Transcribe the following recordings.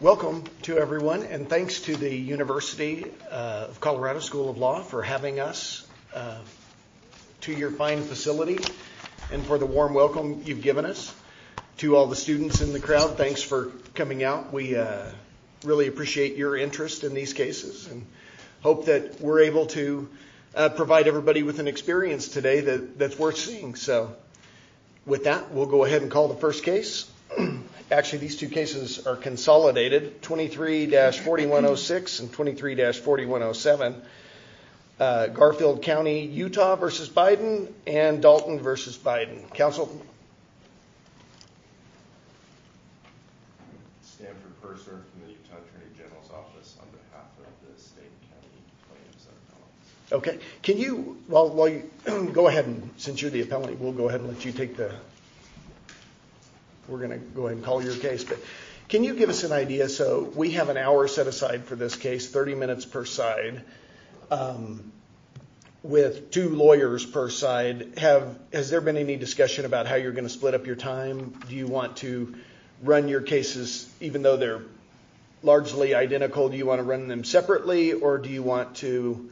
Welcome to everyone and thanks to the University of Colorado School of Law for having us to your fine facility and for the warm welcome you've given us. To all the students in the crowd, thanks for coming out. We really appreciate your interest in these cases and hope that we're able to provide everybody with an experience today that that's worth seeing. So with that, we'll go ahead and call the first case. Actually, these two cases are consolidated 23-4106 and 23-4107 Garfield County, Utah v. Biden and Dalton v. Biden. Counsel? Stanford Purser from the Utah Attorney General's Office on behalf of the state and county plaintiffs and appellants. Okay, can you while you go ahead and since you're the appellant we'll go ahead and let you take the we're going to go ahead and call your case but can you give us an idea so we have an hour set aside for this case 30 minutes per side with two lawyers per side. Has there been any discussion about how you're going to split up your time? Do you want to run your cases even though they're largely identical? Do you want to run them separately or do you want to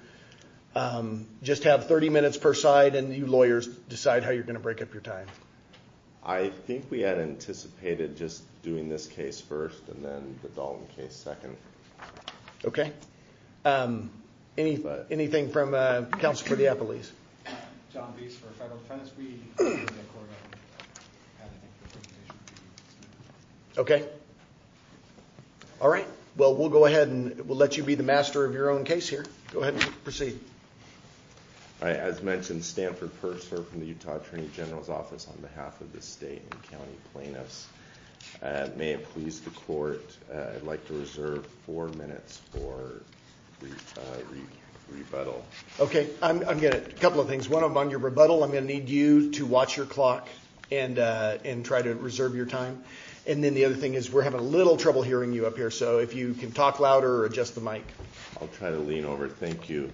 just have 30 minutes per side and you lawyers decide how you're going to break up your time? I think we had anticipated just doing this case first and then the Dalton case second. Okay, anything from counsel for the appellees? John Beese for federal defense. Okay, all right well we'll go ahead and we'll let you be the master of your own case here. Go ahead and proceed. All right, as mentioned Stanford Purser from the Utah Attorney General's Office on behalf of the state and county plaintiffs. May it please the court I'd like to on your rebuttal I'm going to need you to watch your clock and and try to reserve your time and then the other thing is we're having a little trouble hearing you up here so if you can talk louder or adjust the mic. I'll try to lean over, thank you.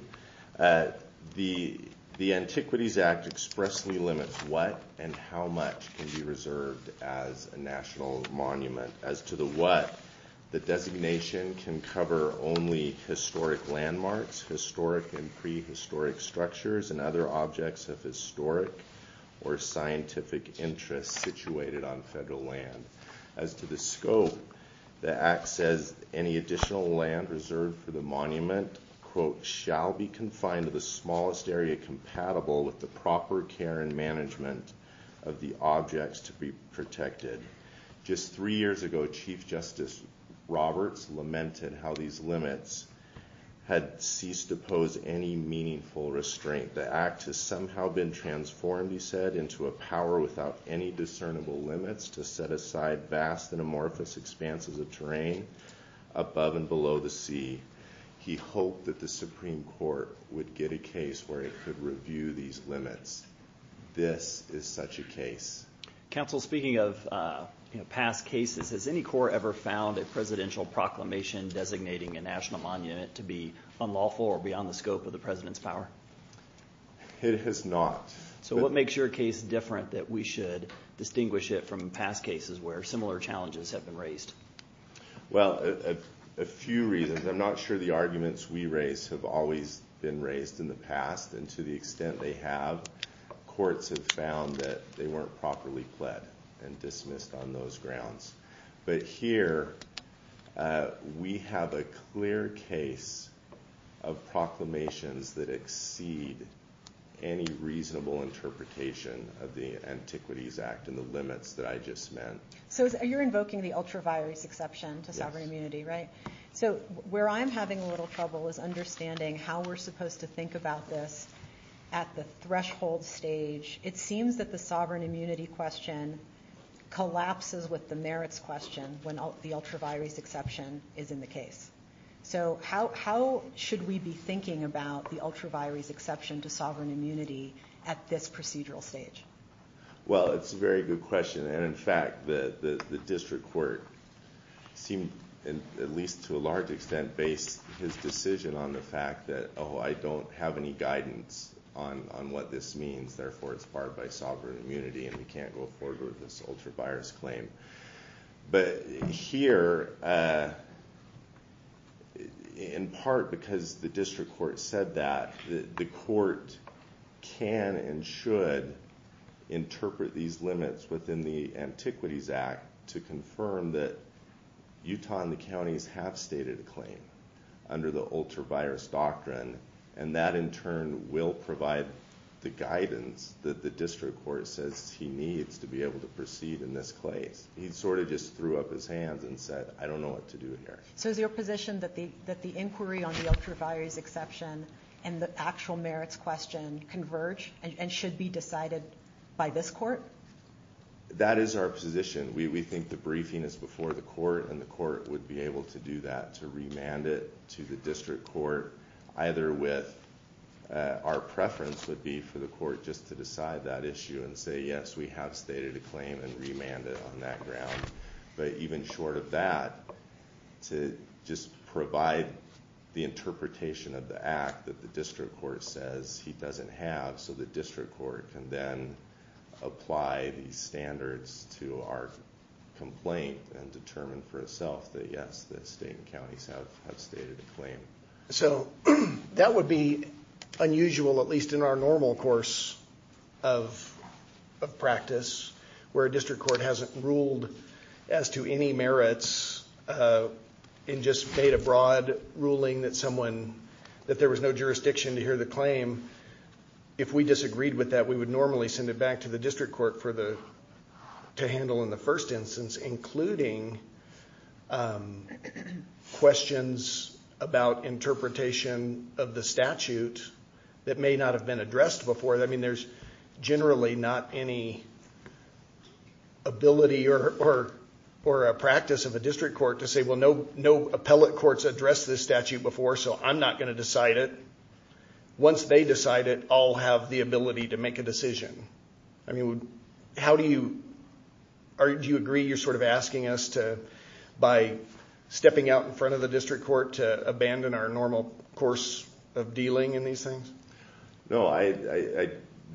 The Antiquities Act expressly limits what and how much can be reserved as a national monument. As to the what, the designation can cover only historic landmarks, historic and prehistoric structures, and other objects of historic or scientific interest situated on federal land. As to the scope, the act says any additional land reserved for the monument quote shall be confined to the smallest area compatible with the proper care and management of the objects to be protected. Just three years ago Chief Justice Roberts lamented how these limits had ceased to pose any meaningful restraint. The act has somehow been transformed he said into a power without any discernible limits to set aside vast and amorphous expanses of terrain above and below the sea. He hoped that the Supreme Court would get a case where it could review these limits. This is such a case. Counsel speaking of past cases, has any court ever found a presidential proclamation designating a national monument to be unlawful or beyond the scope of the president's power? It has not. So what makes your case different that we should distinguish it from past cases where similar challenges have been raised? Well a few reasons. I'm not sure the arguments we raise have always been raised in the past and to the extent they have, courts have found that they weren't properly pled and dismissed on those grounds. But here we have a clear case of proclamations that exceed any reasonable interpretation of the Antiquities Act and the limits that I just meant. So you're invoking the ultra virus exception to sovereign immunity right? So where I'm having a little trouble is understanding how we're supposed to think about this at the threshold stage. It seems that the sovereign immunity question collapses with the merits question when the ultra virus exception is in the case. So how should we be thinking about the ultra virus exception to sovereign immunity at this procedural stage? Well it's a very good question and in fact the district court seemed, at least to a large extent, based his decision on the fact that oh I don't have any guidance on what this means therefore it's barred by sovereign immunity and we can't go forward with this ultra virus claim. But here in part because the district court said that, the court can and should interpret these limits within the Antiquities Act to confirm that Utah and the counties have stated a claim under the ultra virus doctrine and that in turn will provide the guidance that the district court says he needs to be able to proceed in this case. He sort of just threw up his hands and said I don't know what to do here. So is your position that the that the inquiry on the ultra virus exception and the actual merits question converge and should be decided by this court? That is our position. We think the briefing is before the court and the court would be able to do that to remand it to the district court either with our preference would be for the court just to decide that issue and say yes we have stated a claim and remand it on that ground. But even short of that to just provide the interpretation of the act that the district court says he doesn't have so the district court can then apply these standards to our complaint and determine for itself that yes the state and counties have stated a claim. So that would be unusual at least in our course of practice where a district court hasn't ruled as to any merits and just made a broad ruling that someone that there was no jurisdiction to hear the claim. If we disagreed with that we would normally send it back to the district court for the to handle in the first instance including questions about interpretation of the statute that may not have been addressed before. I mean there's generally not any ability or a practice of a district court to say well no appellate courts addressed this statute before so I'm not going to decide it. Once they decide it I'll have the ability to make a decision. I mean how do you agree you're sort of asking us to by stepping out in front of the things? No I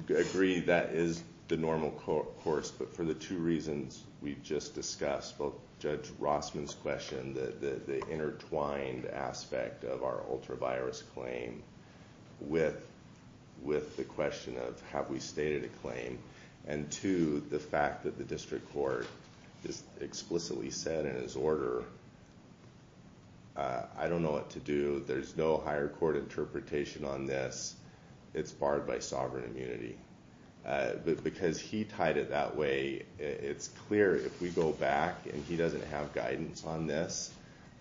agree that is the normal course but for the two reasons we've just discussed both Judge Rossman's question that the intertwined aspect of our ultravirus claim with the question of have we stated a claim and two the fact that the district court just explicitly said in his order I don't know what to do there's no higher court interpretation on this it's barred by sovereign immunity. Because he tied it that way it's clear if we go back and he doesn't have guidance on this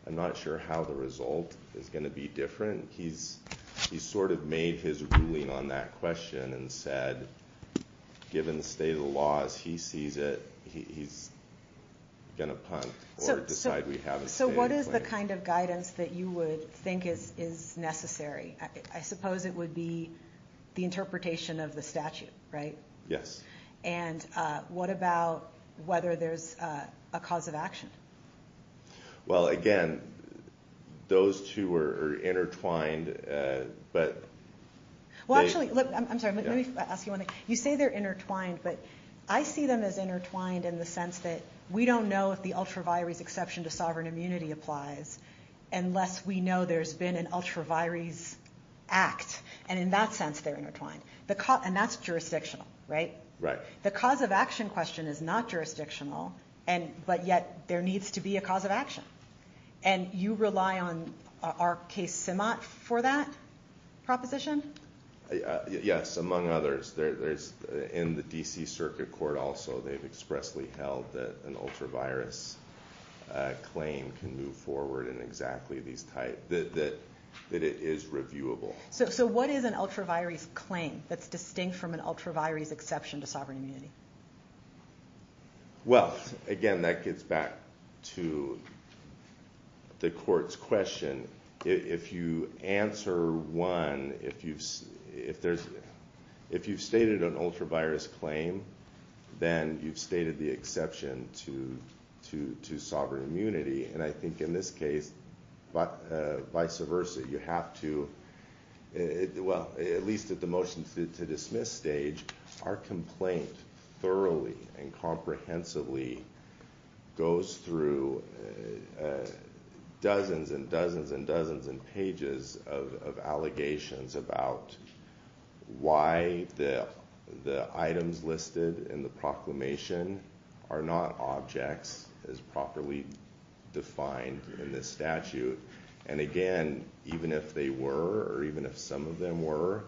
I'm not sure how the result is going to be different. He's he's sort of made his ruling on that question and said given the state of the laws he sees it he's going to punt or decide we haven't stated a claim. So what is the kind of guidance that you would think is necessary? I suppose it would be the interpretation of the statute right? Yes. And what about whether there's a cause of action? Well again those two are intertwined but well actually look I'm sorry let me ask you one thing you say they're intertwined but I see them as intertwined in the sense that we don't know if the ultravirus exception to sovereign immunity applies unless we know there's been an ultravirus act and in that sense they're intertwined. The cause and that's jurisdictional right? Right. The cause of action question is not jurisdictional and but yet there needs to be a cause of action and you rely on RK Simot for that proposition? Yes among others there's in the D.C. circuit court also they've expressly held that an ultravirus claim can move forward in exactly these type that it is reviewable. So what is an ultravirus claim that's distinct from an ultravirus exception to sovereign immunity? Well again that gets back to the court's question if you answer one if you've stated an ultravirus claim then you've stated the exception to sovereign immunity and I think in this case but vice versa you have to well at least at the motion to dismiss stage our complaint thoroughly and comprehensively goes through dozens and dozens and dozens and pages of allegations about why the the items listed in the proclamation are not objects as properly defined in the statute and again even if they were or even if some of them were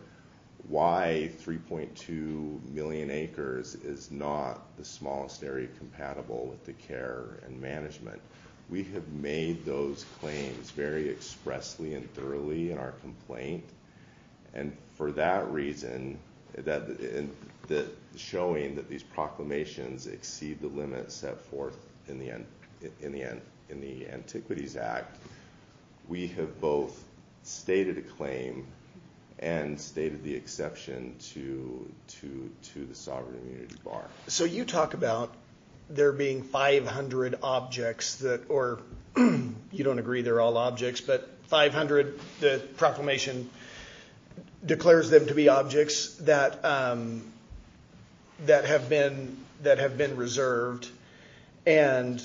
why 3.2 million acres is not the smallest area compatible with the care and management. We have made those claims very expressly and thoroughly in our complaint and for that reason that in the showing that these proclamations exceed the limit set forth in the Antiquities Act we have both stated a claim and stated the exception to the sovereign immunity bar. So you talk about there being 500 objects that or you don't agree they're all objects but 500 the proclamation declares them to be objects that that have been that have been reserved and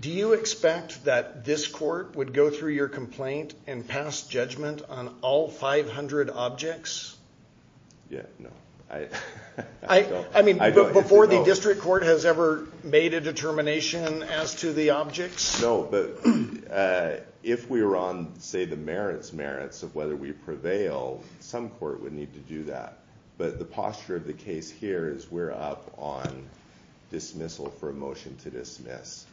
do you expect that this court would go through your complaint and pass judgment on all 500 objects? Yeah no. I mean before the district court has ever made a determination as to the objects? No but if we were on say the merits of whether we prevail some court would need to do that but the posture of the case here is we're up on dismissal for a motion to dismiss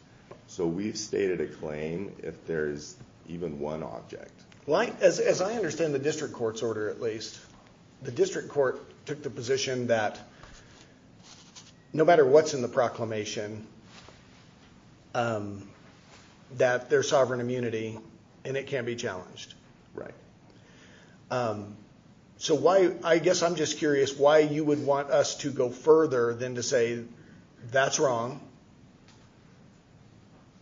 so we've stated a claim if there's even one object. Well I as I understand the district court's order at least the district court took the position that no matter what's in the proclamation that there's sovereign immunity and it can be challenged. Right. So why I guess I'm just curious why you would want us to go further than to say that's wrong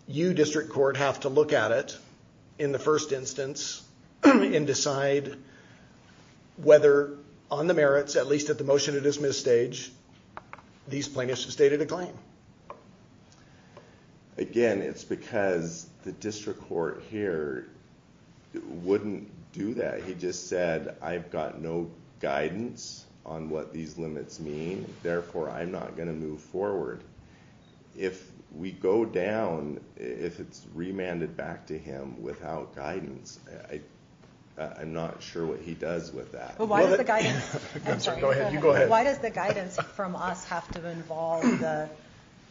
you district court have to look at it in the first instance and decide whether on the merits at least at the motion to dismiss stage these plaintiffs have stated a claim. Again it's because the district court here wouldn't do that he just said I've got no guidance on what these limits mean therefore I'm not going to move forward if we go down if it's remanded back to him without guidance I'm not sure what he does with that. Why does the guidance from us have to involve the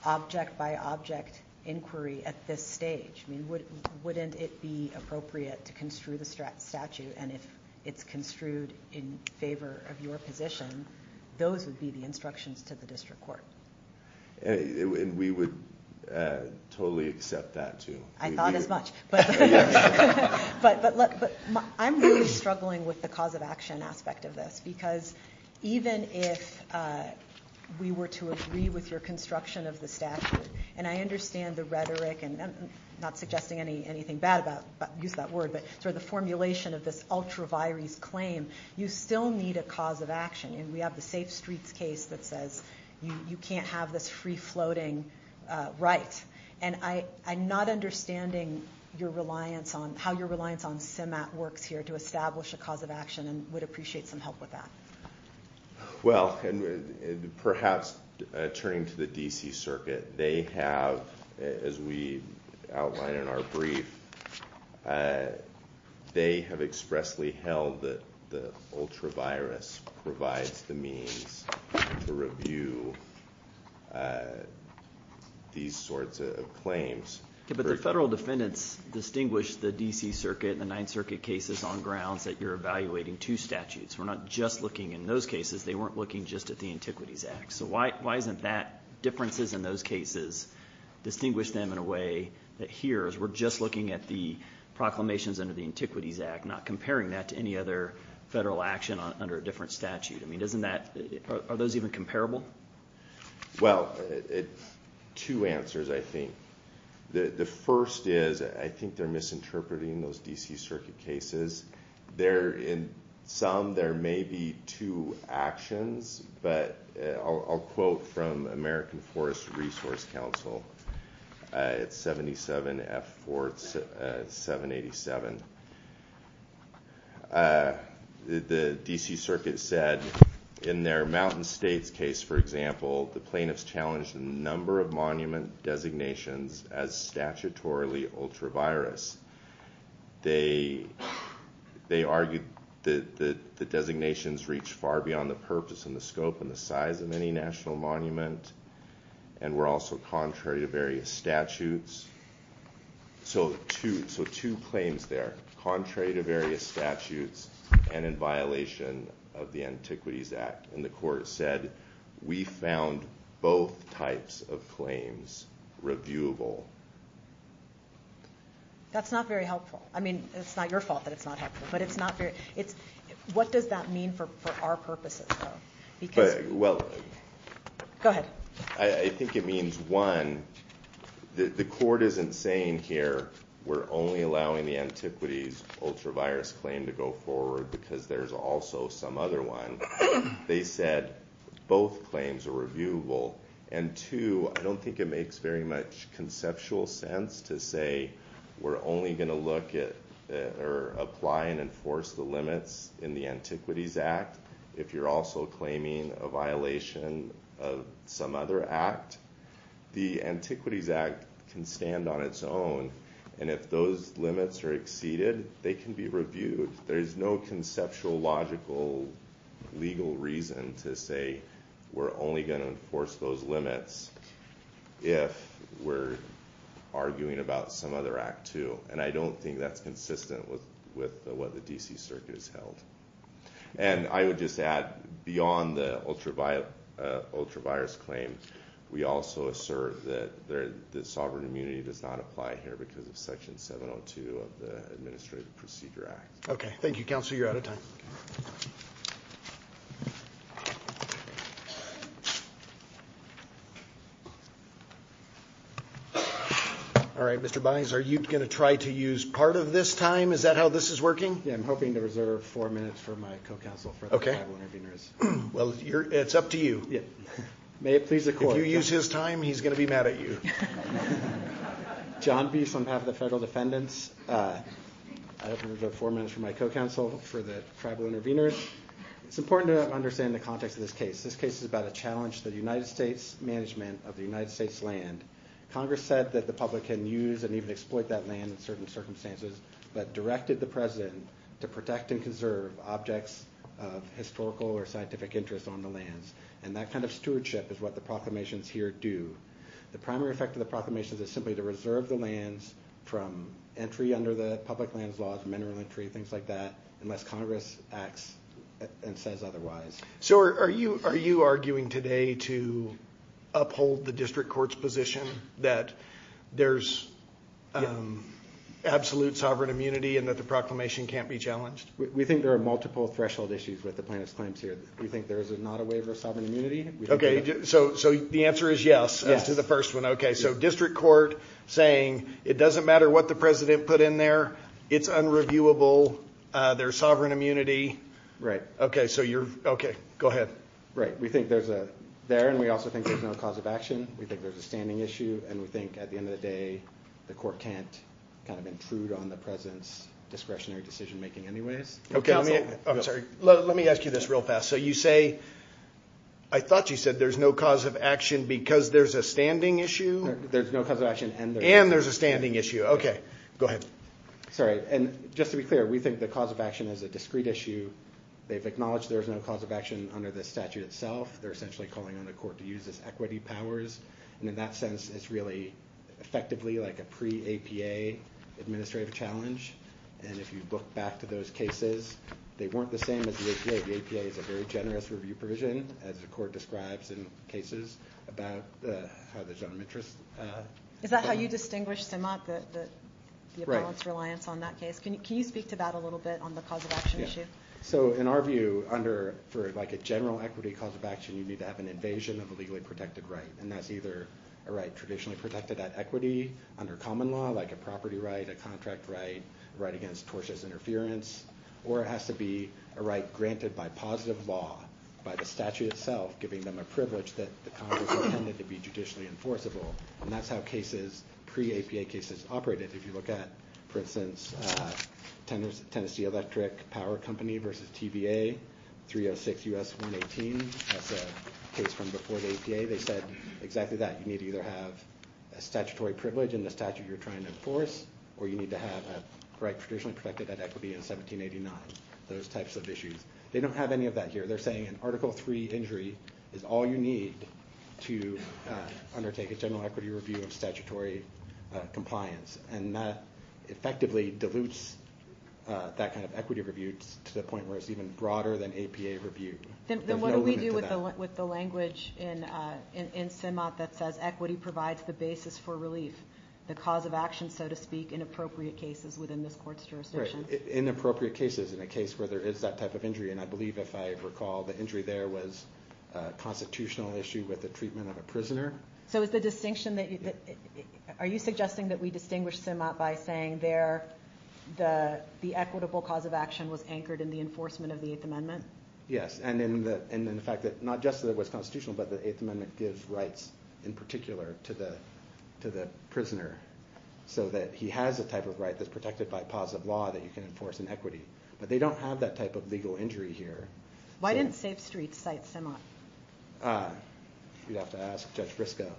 object by object inquiry at this stage I mean wouldn't it be appropriate to construe the statute and if it's construed in favor of your position those would be the instructions to the district court. And we would totally accept that too. I thought as much but I'm really struggling with the cause of action aspect of this because even if we were to agree with your construction of the statute and I understand the rhetoric and I'm not suggesting anything bad about use that word but sort of the formulation of this ultra virus claim you still need a cause of action and we have the safe streets case that says you can't have this free floating right and I'm not understanding your reliance on how your reliance on CEMAT works here to establish a cause of action and would appreciate some help with that. Well and perhaps turning to the DC circuit they have as we outline in our brief they have expressly held that the ultra virus provides the means to review these sorts of claims. But the federal defendants distinguish the DC circuit and the 9th circuit cases on grounds that you're evaluating two statutes we're not just looking in those cases they weren't looking just at the antiquities act so why isn't that differences in those cases distinguish them in a way that here is we're just looking at the proclamations under the antiquities act not comparing that to any other federal action under a different statute I mean are those even comparable? Well two answers I think the first is I think they're misinterpreting those DC circuit cases there in some there may be two actions but I'll quote from American in their mountain states case for example the plaintiffs challenged the number of monument designations as statutorily ultra virus they they argued that the designations reach far beyond the purpose and the scope and the size of any national monument and were also contrary to various statutes so two so two claims there contrary to various statutes and in violation of the antiquities act and the court said we found both types of claims reviewable. That's not very helpful I mean it's not your fault that it's not helpful but it's not very it's what does that mean for for our purposes though because well go ahead I think it means one the court isn't saying here we're only allowing the antiquities ultra virus claim to go forward because there's also some other one they said both claims are reviewable and two I don't think it makes very much conceptual sense to say we're only going to look at or apply and enforce the limits in the antiquities act if you're also claiming a violation of some other act the antiquities act can stand on its own and if those limits are exceeded they can be reviewed there's no conceptual logical legal reason to say we're only going to enforce those limits if we're arguing about some other act too and I don't think that's consistent with with what the dc circuit is held and I would just add beyond the ultra ultra virus claim we also assert that there the sovereign immunity does not apply here because of section 702 of the administrative procedure act okay thank you counsel you're out of time all right Mr. Bynes are you going to try to use part of this time is that how this is working yeah I'm hoping to reserve four minutes for my co-counsel for okay well you're it's up to you yeah may it please the court if you use his time he's going to be mad at you john beast on behalf of the federal defendants uh I have four minutes for my co-counsel for the tribal intervenors it's important to understand the context of this case this case is about a challenge the united states management of the united states land congress said that the public can use and even exploit that land in certain circumstances but directed the president to protect and conserve objects of historical or scientific interest on the lands and that kind stewardship is what the proclamations here do the primary effect of the proclamations is simply to reserve the lands from entry under the public lands laws mineral entry things like that unless congress acts and says otherwise so are you are you arguing today to uphold the district court's position that there's um absolute sovereign immunity and that the proclamation can't be challenged we think there are multiple threshold issues with the plaintiff's claims here we think there is not a waiver of sovereign immunity okay so so the answer is yes as to the first one okay so district court saying it doesn't matter what the president put in there it's unreviewable uh there's sovereign immunity right okay so you're okay go ahead right we think there's a there and we also think there's no cause of action we think there's a standing issue and we think at the end of the day the court can't kind of intrude on the president's discretionary decision making anyways okay let me i'm sorry let me ask you this real fast so you say i thought you said there's no cause of action because there's a standing issue there's no cause of action and there's a standing issue okay go ahead sorry and just to be clear we think the cause of action is a discrete issue they've acknowledged there's no cause of action under this statute itself they're essentially calling on the court to use this equity powers and in that sense it's really effectively like a pre-apa administrative challenge and if you look back to those cases they weren't the same as the apa the apa is a very generous review provision as the court describes in cases about the how the general interest uh is that how you distinguish sim up the the balance reliance on that case can you can you speak to that a little bit on the cause of action issue so in our view under for like a general equity cause of action you need to have an invasion of a legally protected right and that's either a right traditionally protected at equity under common law like a property right a contract right right against tortious interference or it has to be a right granted by positive law by the statute itself giving them a privilege that the congress intended to be judicially enforceable and that's how cases pre-apa cases operated if you look at for instance uh tennessee electric power company versus tba 306 us 118 that's a case from before the apa they said exactly that you need to either have a statutory privilege in the statute you're trying to enforce or you need to have a right traditionally protected at equity in 1789 those types of issues they don't have any of that here they're saying an article three injury is all you need to undertake a general equity review of statutory compliance and that effectively dilutes that kind of equity review to the point where it's even broader than apa review then what do we do with the with the language in uh in sim up that says equity provides the basis for relief the cause of action so to speak in appropriate cases within this court's jurisdiction in appropriate cases in a case where there is that type of injury and i believe if i recall the injury there was a constitutional issue with the treatment of a prisoner so it's the distinction that are you suggesting that we distinguish sim up by saying there the the equitable cause of action was anchored in the enforcement of the eighth amendment yes and in the and in the fact that not just that it was constitutional but the eighth amendment gives rights in particular to the to the prisoner so that he has a type of right that's protected by positive law that you can enforce in equity but they don't have that type of legal injury here why didn't safe streets cite sim up uh you'd have to ask judge briscoe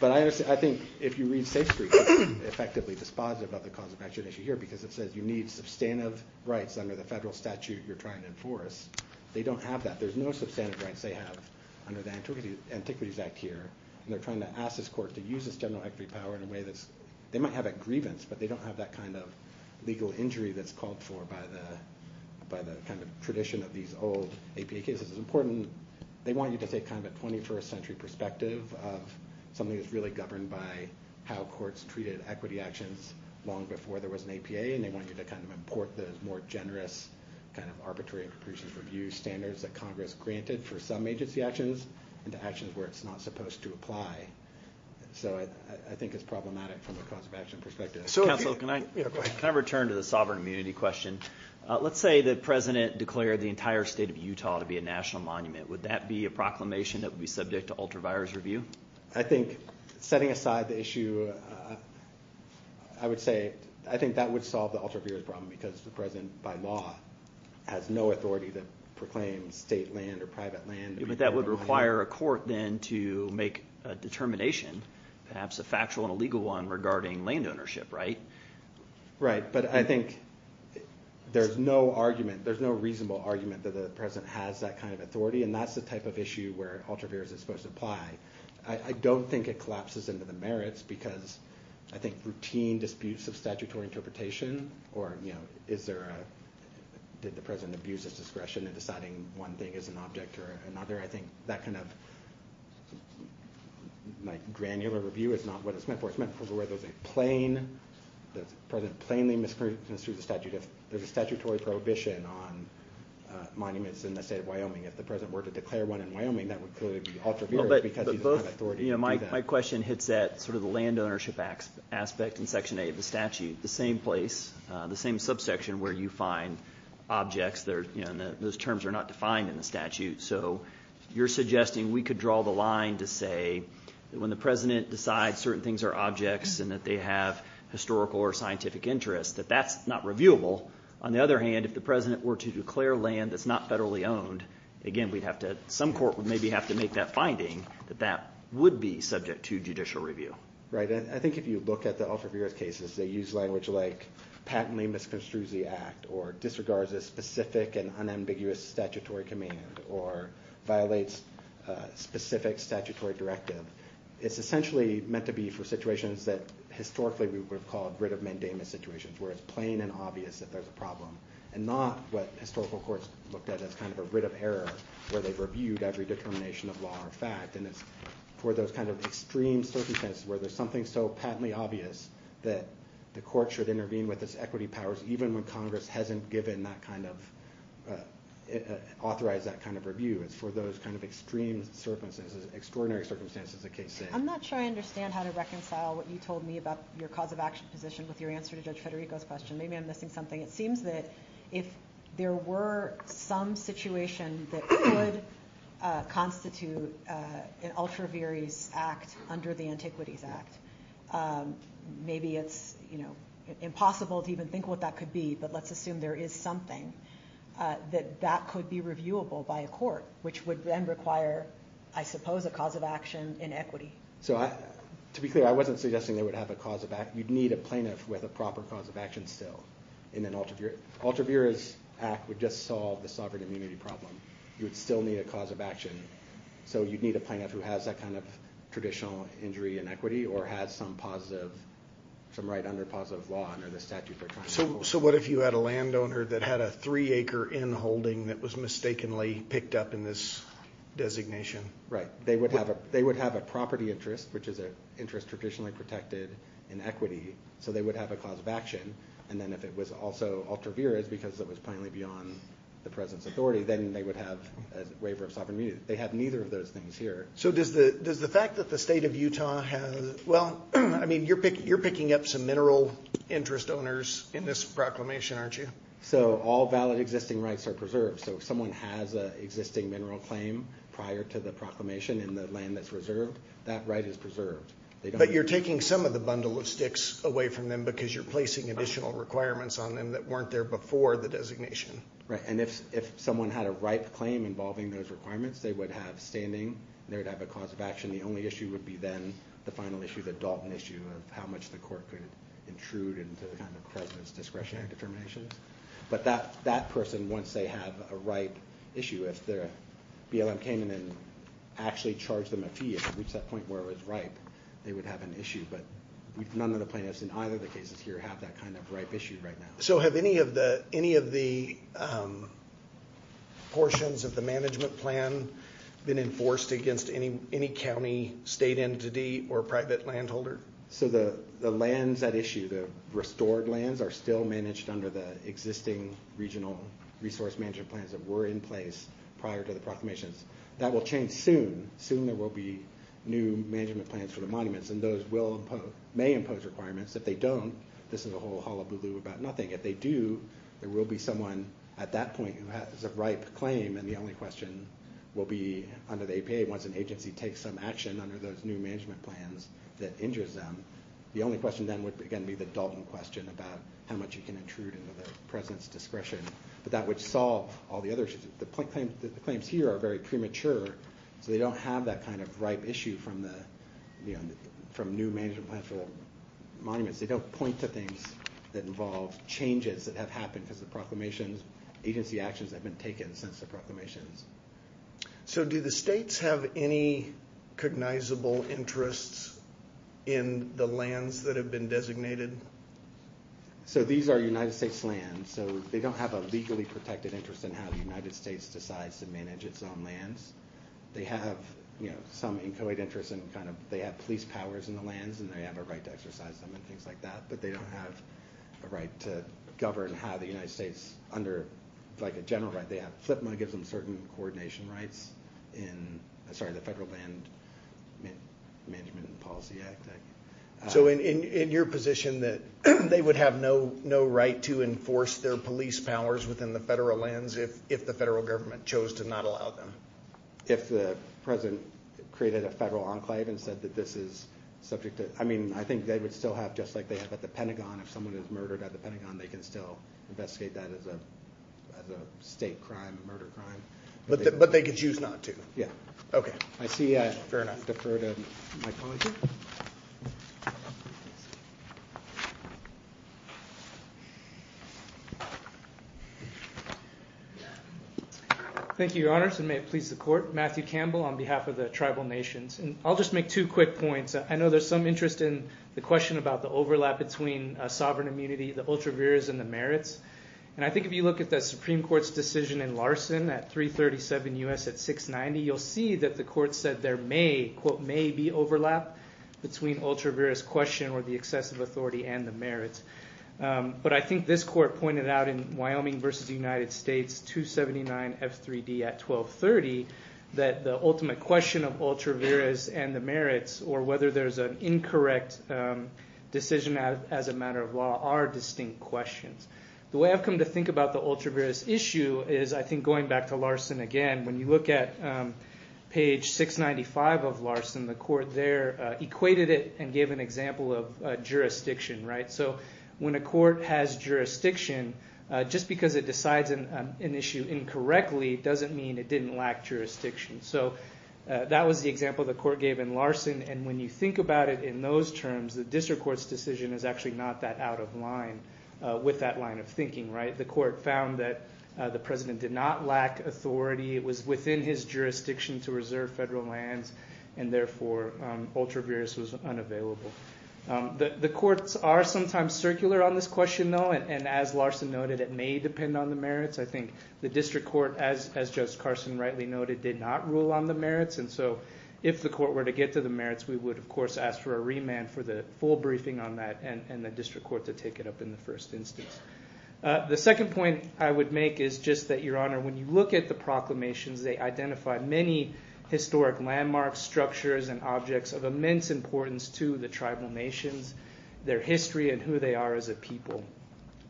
but i understand i think if you read safe street effectively dispositive about the cause of action issue here because it says you need substantive rights under the federal statute you're trying they don't have that there's no substantive rights they have under the antiquity antiquities act here and they're trying to ask this court to use this general equity power in a way that's they might have a grievance but they don't have that kind of legal injury that's called for by the by the kind of tradition of these old apa cases it's important they want you to take kind of a 21st century perspective of something that's really governed by how courts treated equity actions long before there was an apa and they want you to kind of import those more generous kind of arbitrary and capricious review standards that congress granted for some agency actions into actions where it's not supposed to apply so i i think it's problematic from the cause of action perspective so can i can i return to the sovereign immunity question uh let's say the president declared the entire state of utah to be a national monument would that be a proclamation that would be subject to ultra virus review i think setting aside the issue i would say i think that would because the president by law has no authority to proclaim state land or private land but that would require a court then to make a determination perhaps a factual and a legal one regarding land ownership right right but i think there's no argument there's no reasonable argument that the president has that kind of authority and that's the type of issue where ultra virus is supposed to apply i don't think it collapses into the merits because i think routine disputes of interpretation or you know is there a did the president abuse his discretion in deciding one thing as an object or another i think that kind of like granular review is not what it's meant for it's meant for where there's a plain the president plainly misconstrues the statute if there's a statutory prohibition on monuments in the state of wyoming if the president were to declare one in wyoming that would clearly be ultra because he doesn't have authority you know my question hits that sort of the land ownership aspect in section a of the statute the same place the same subsection where you find objects there you know those terms are not defined in the statute so you're suggesting we could draw the line to say that when the president decides certain things are objects and that they have historical or scientific interest that that's not reviewable on the other hand if the president were to declare land that's not federally owned again we'd have to some court would maybe have to make that finding that that would be subject to judicial review right i think if you look at the ultraviolet cases they use language like patently misconstrues the act or disregards a specific and unambiguous statutory command or violates specific statutory directive it's essentially meant to be for situations that historically we would have called writ of mandamus situations where it's plain and obvious that and not what historical courts looked at as kind of a writ of error where they've reviewed every determination of law or fact and it's for those kind of extreme circumstances where there's something so patently obvious that the court should intervene with its equity powers even when congress hasn't given that kind of authorized that kind of review it's for those kind of extreme circumstances extraordinary circumstances the case i'm not sure i understand how to reconcile what you told me about your cause of action position with your answer to judge federico's question maybe i'm missing something it seems that if there were some situation that could constitute uh an ultra various act under the antiquities act um maybe it's you know impossible to even think what that could be but let's assume there is something uh that that could be reviewable by a court which would then require i suppose a cause of action in equity so i to be clear i wasn't suggesting they would have a cause of act you'd need a plaintiff with a proper cause of action still in an ultra altruistic act would just solve the sovereign immunity problem you would still need a cause of action so you'd need a plaintiff who has that kind of traditional injury and equity or has some positive some right under positive law under the statute so so what if you had a landowner that had a three acre in holding that was mistakenly picked up in this designation right they would have a they would have a property interest which is a interest traditionally protected in equity so they would have a cause of action and then if it was also ultra virus because it was plainly beyond the president's authority then they would have a waiver of sovereign immunity they have neither of those things here so does the does the fact that the state of utah has well i mean you're picking you're picking up some mineral interest owners in this proclamation aren't you so all valid existing rights are preserved so if someone has a existing mineral claim prior to the proclamation in the land that's reserved that right is preserved but you're taking some of the bundle of sticks away from them because you're placing additional requirements on them that weren't there before the designation right and if if someone had a ripe claim involving those requirements they would have standing they would have a cause of action the only issue would be then the final issue the Dalton issue of how much the court could intrude into the kind of president's discretionary determinations but that that person once they have a right issue if their blm came in and actually charged them a fee it reached that where it was ripe they would have an issue but we've none of the plaintiffs in either the cases here have that kind of ripe issue right now so have any of the any of the portions of the management plan been enforced against any any county state entity or private landholder so the the lands that issue the restored lands are still managed under the existing regional resource management plans that were in place prior to the proclamations that will change soon soon there will be new management plans for the monuments and those will impose may impose requirements if they don't this is a whole hullabaloo about nothing if they do there will be someone at that point who has a ripe claim and the only question will be under the apa once an agency takes some action under those new management plans that injures them the only question then would again be the Dalton question about how much you can intrude into the president's discretion but that would solve all the other issues the claims here are very premature so they don't have that kind of ripe issue from the you know from new management monuments they don't point to things that involve changes that have happened because the proclamations agency actions have been taken since the proclamations so do the states have any cognizable interests in the lands that have been designated so these are united states lands so they don't have a legally protected interest in how the united states decides to manage its own lands they have you know some incoate interest in kind of they have police powers in the lands and they have a right to exercise them and things like that but they don't have a right to govern how the united states under like a general right they have flip my gives them certain coordination rights in sorry the federal land management policy act so in in your position that they would have no no right to enforce their police powers within the federal lands if if the federal government chose to not allow them if the president created a federal enclave and said that this is subject to i mean i think they would still have just like they have at the pentagon if someone is murdered at the pentagon they can still investigate that as a as a state crime murder crime but but they could choose not to yeah okay i see uh fair enough defer to my colleague thank you your honors and may it please the court matthew campbell on behalf of the tribal nations and i'll just make two quick points i know there's some interest in the question about the overlap between uh sovereign immunity the ultra viras and the merits and i think if you look at the supreme court's decision in larson at 337 us at 690 you'll see that the court said there may quote may be overlap between ultra virus question or the excessive authority and the merits but i think this court pointed out in wyoming versus the united states 279 f3d at 12 30 that the ultimate question of ultra viras and the merits or whether there's an incorrect decision as a matter of law are distinct questions the way i've come to think about the ultra virus issue is i think going back to larson again when you look at page 695 of larson the court there equated it and gave an example of jurisdiction right so when a court has jurisdiction just because it decides an issue incorrectly doesn't mean it didn't lack jurisdiction so that was the example the court gave in larson and when you think about it in those terms the district court's is actually not that out of line uh with that line of thinking right the court found that the president did not lack authority it was within his jurisdiction to reserve federal lands and therefore um ultra virus was unavailable um the the courts are sometimes circular on this question though and as larson noted it may depend on the merits i think the district court as as judge carson rightly noted did not rule on the merits and so if the court were to get to the and and the district court to take it up in the first instance the second point i would make is just that your honor when you look at the proclamations they identify many historic landmarks structures and objects of immense importance to the tribal nations their history and who they are as a people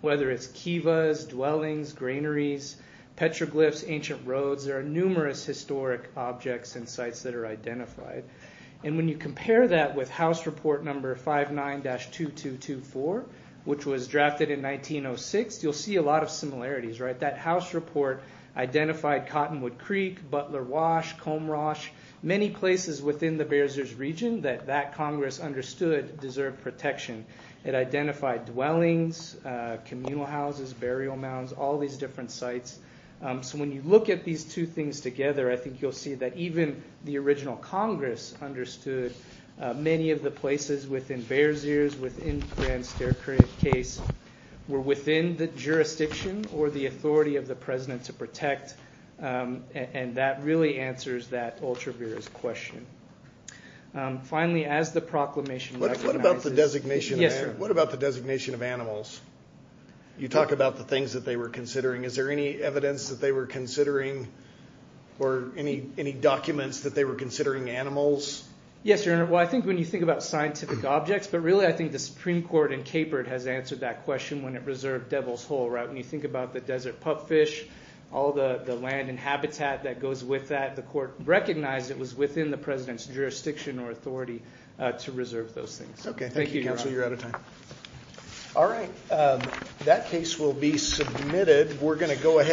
whether it's kivas dwellings granaries petroglyphs ancient roads there are numerous historic objects and sites that are identified and when you compare that with house report number 59-2224 which was drafted in 1906 you'll see a lot of similarities right that house report identified cottonwood creek butler wash comb rash many places within the bearsers region that that congress understood deserved protection it identified dwellings uh communal houses burial mounds all these different sites um so when you look at these two things together i think you'll see that even the original congress understood many of the places within bears ears within grand staircase were within the jurisdiction or the authority of the president to protect and that really answers that ultra virus question finally as the proclamation what about the designation yes sir what about the designation of animals you talk about the things that they were considering is there any evidence that they were considering or any any documents that they were considering animals yes your honor well i think when you think about scientific objects but really i think the supreme court in capert has answered that question when it reserved devil's hole right when you think about the desert pup fish all the the land and habitat that goes with that the court recognized it was within the president's jurisdiction or authority uh to we're going to go ahead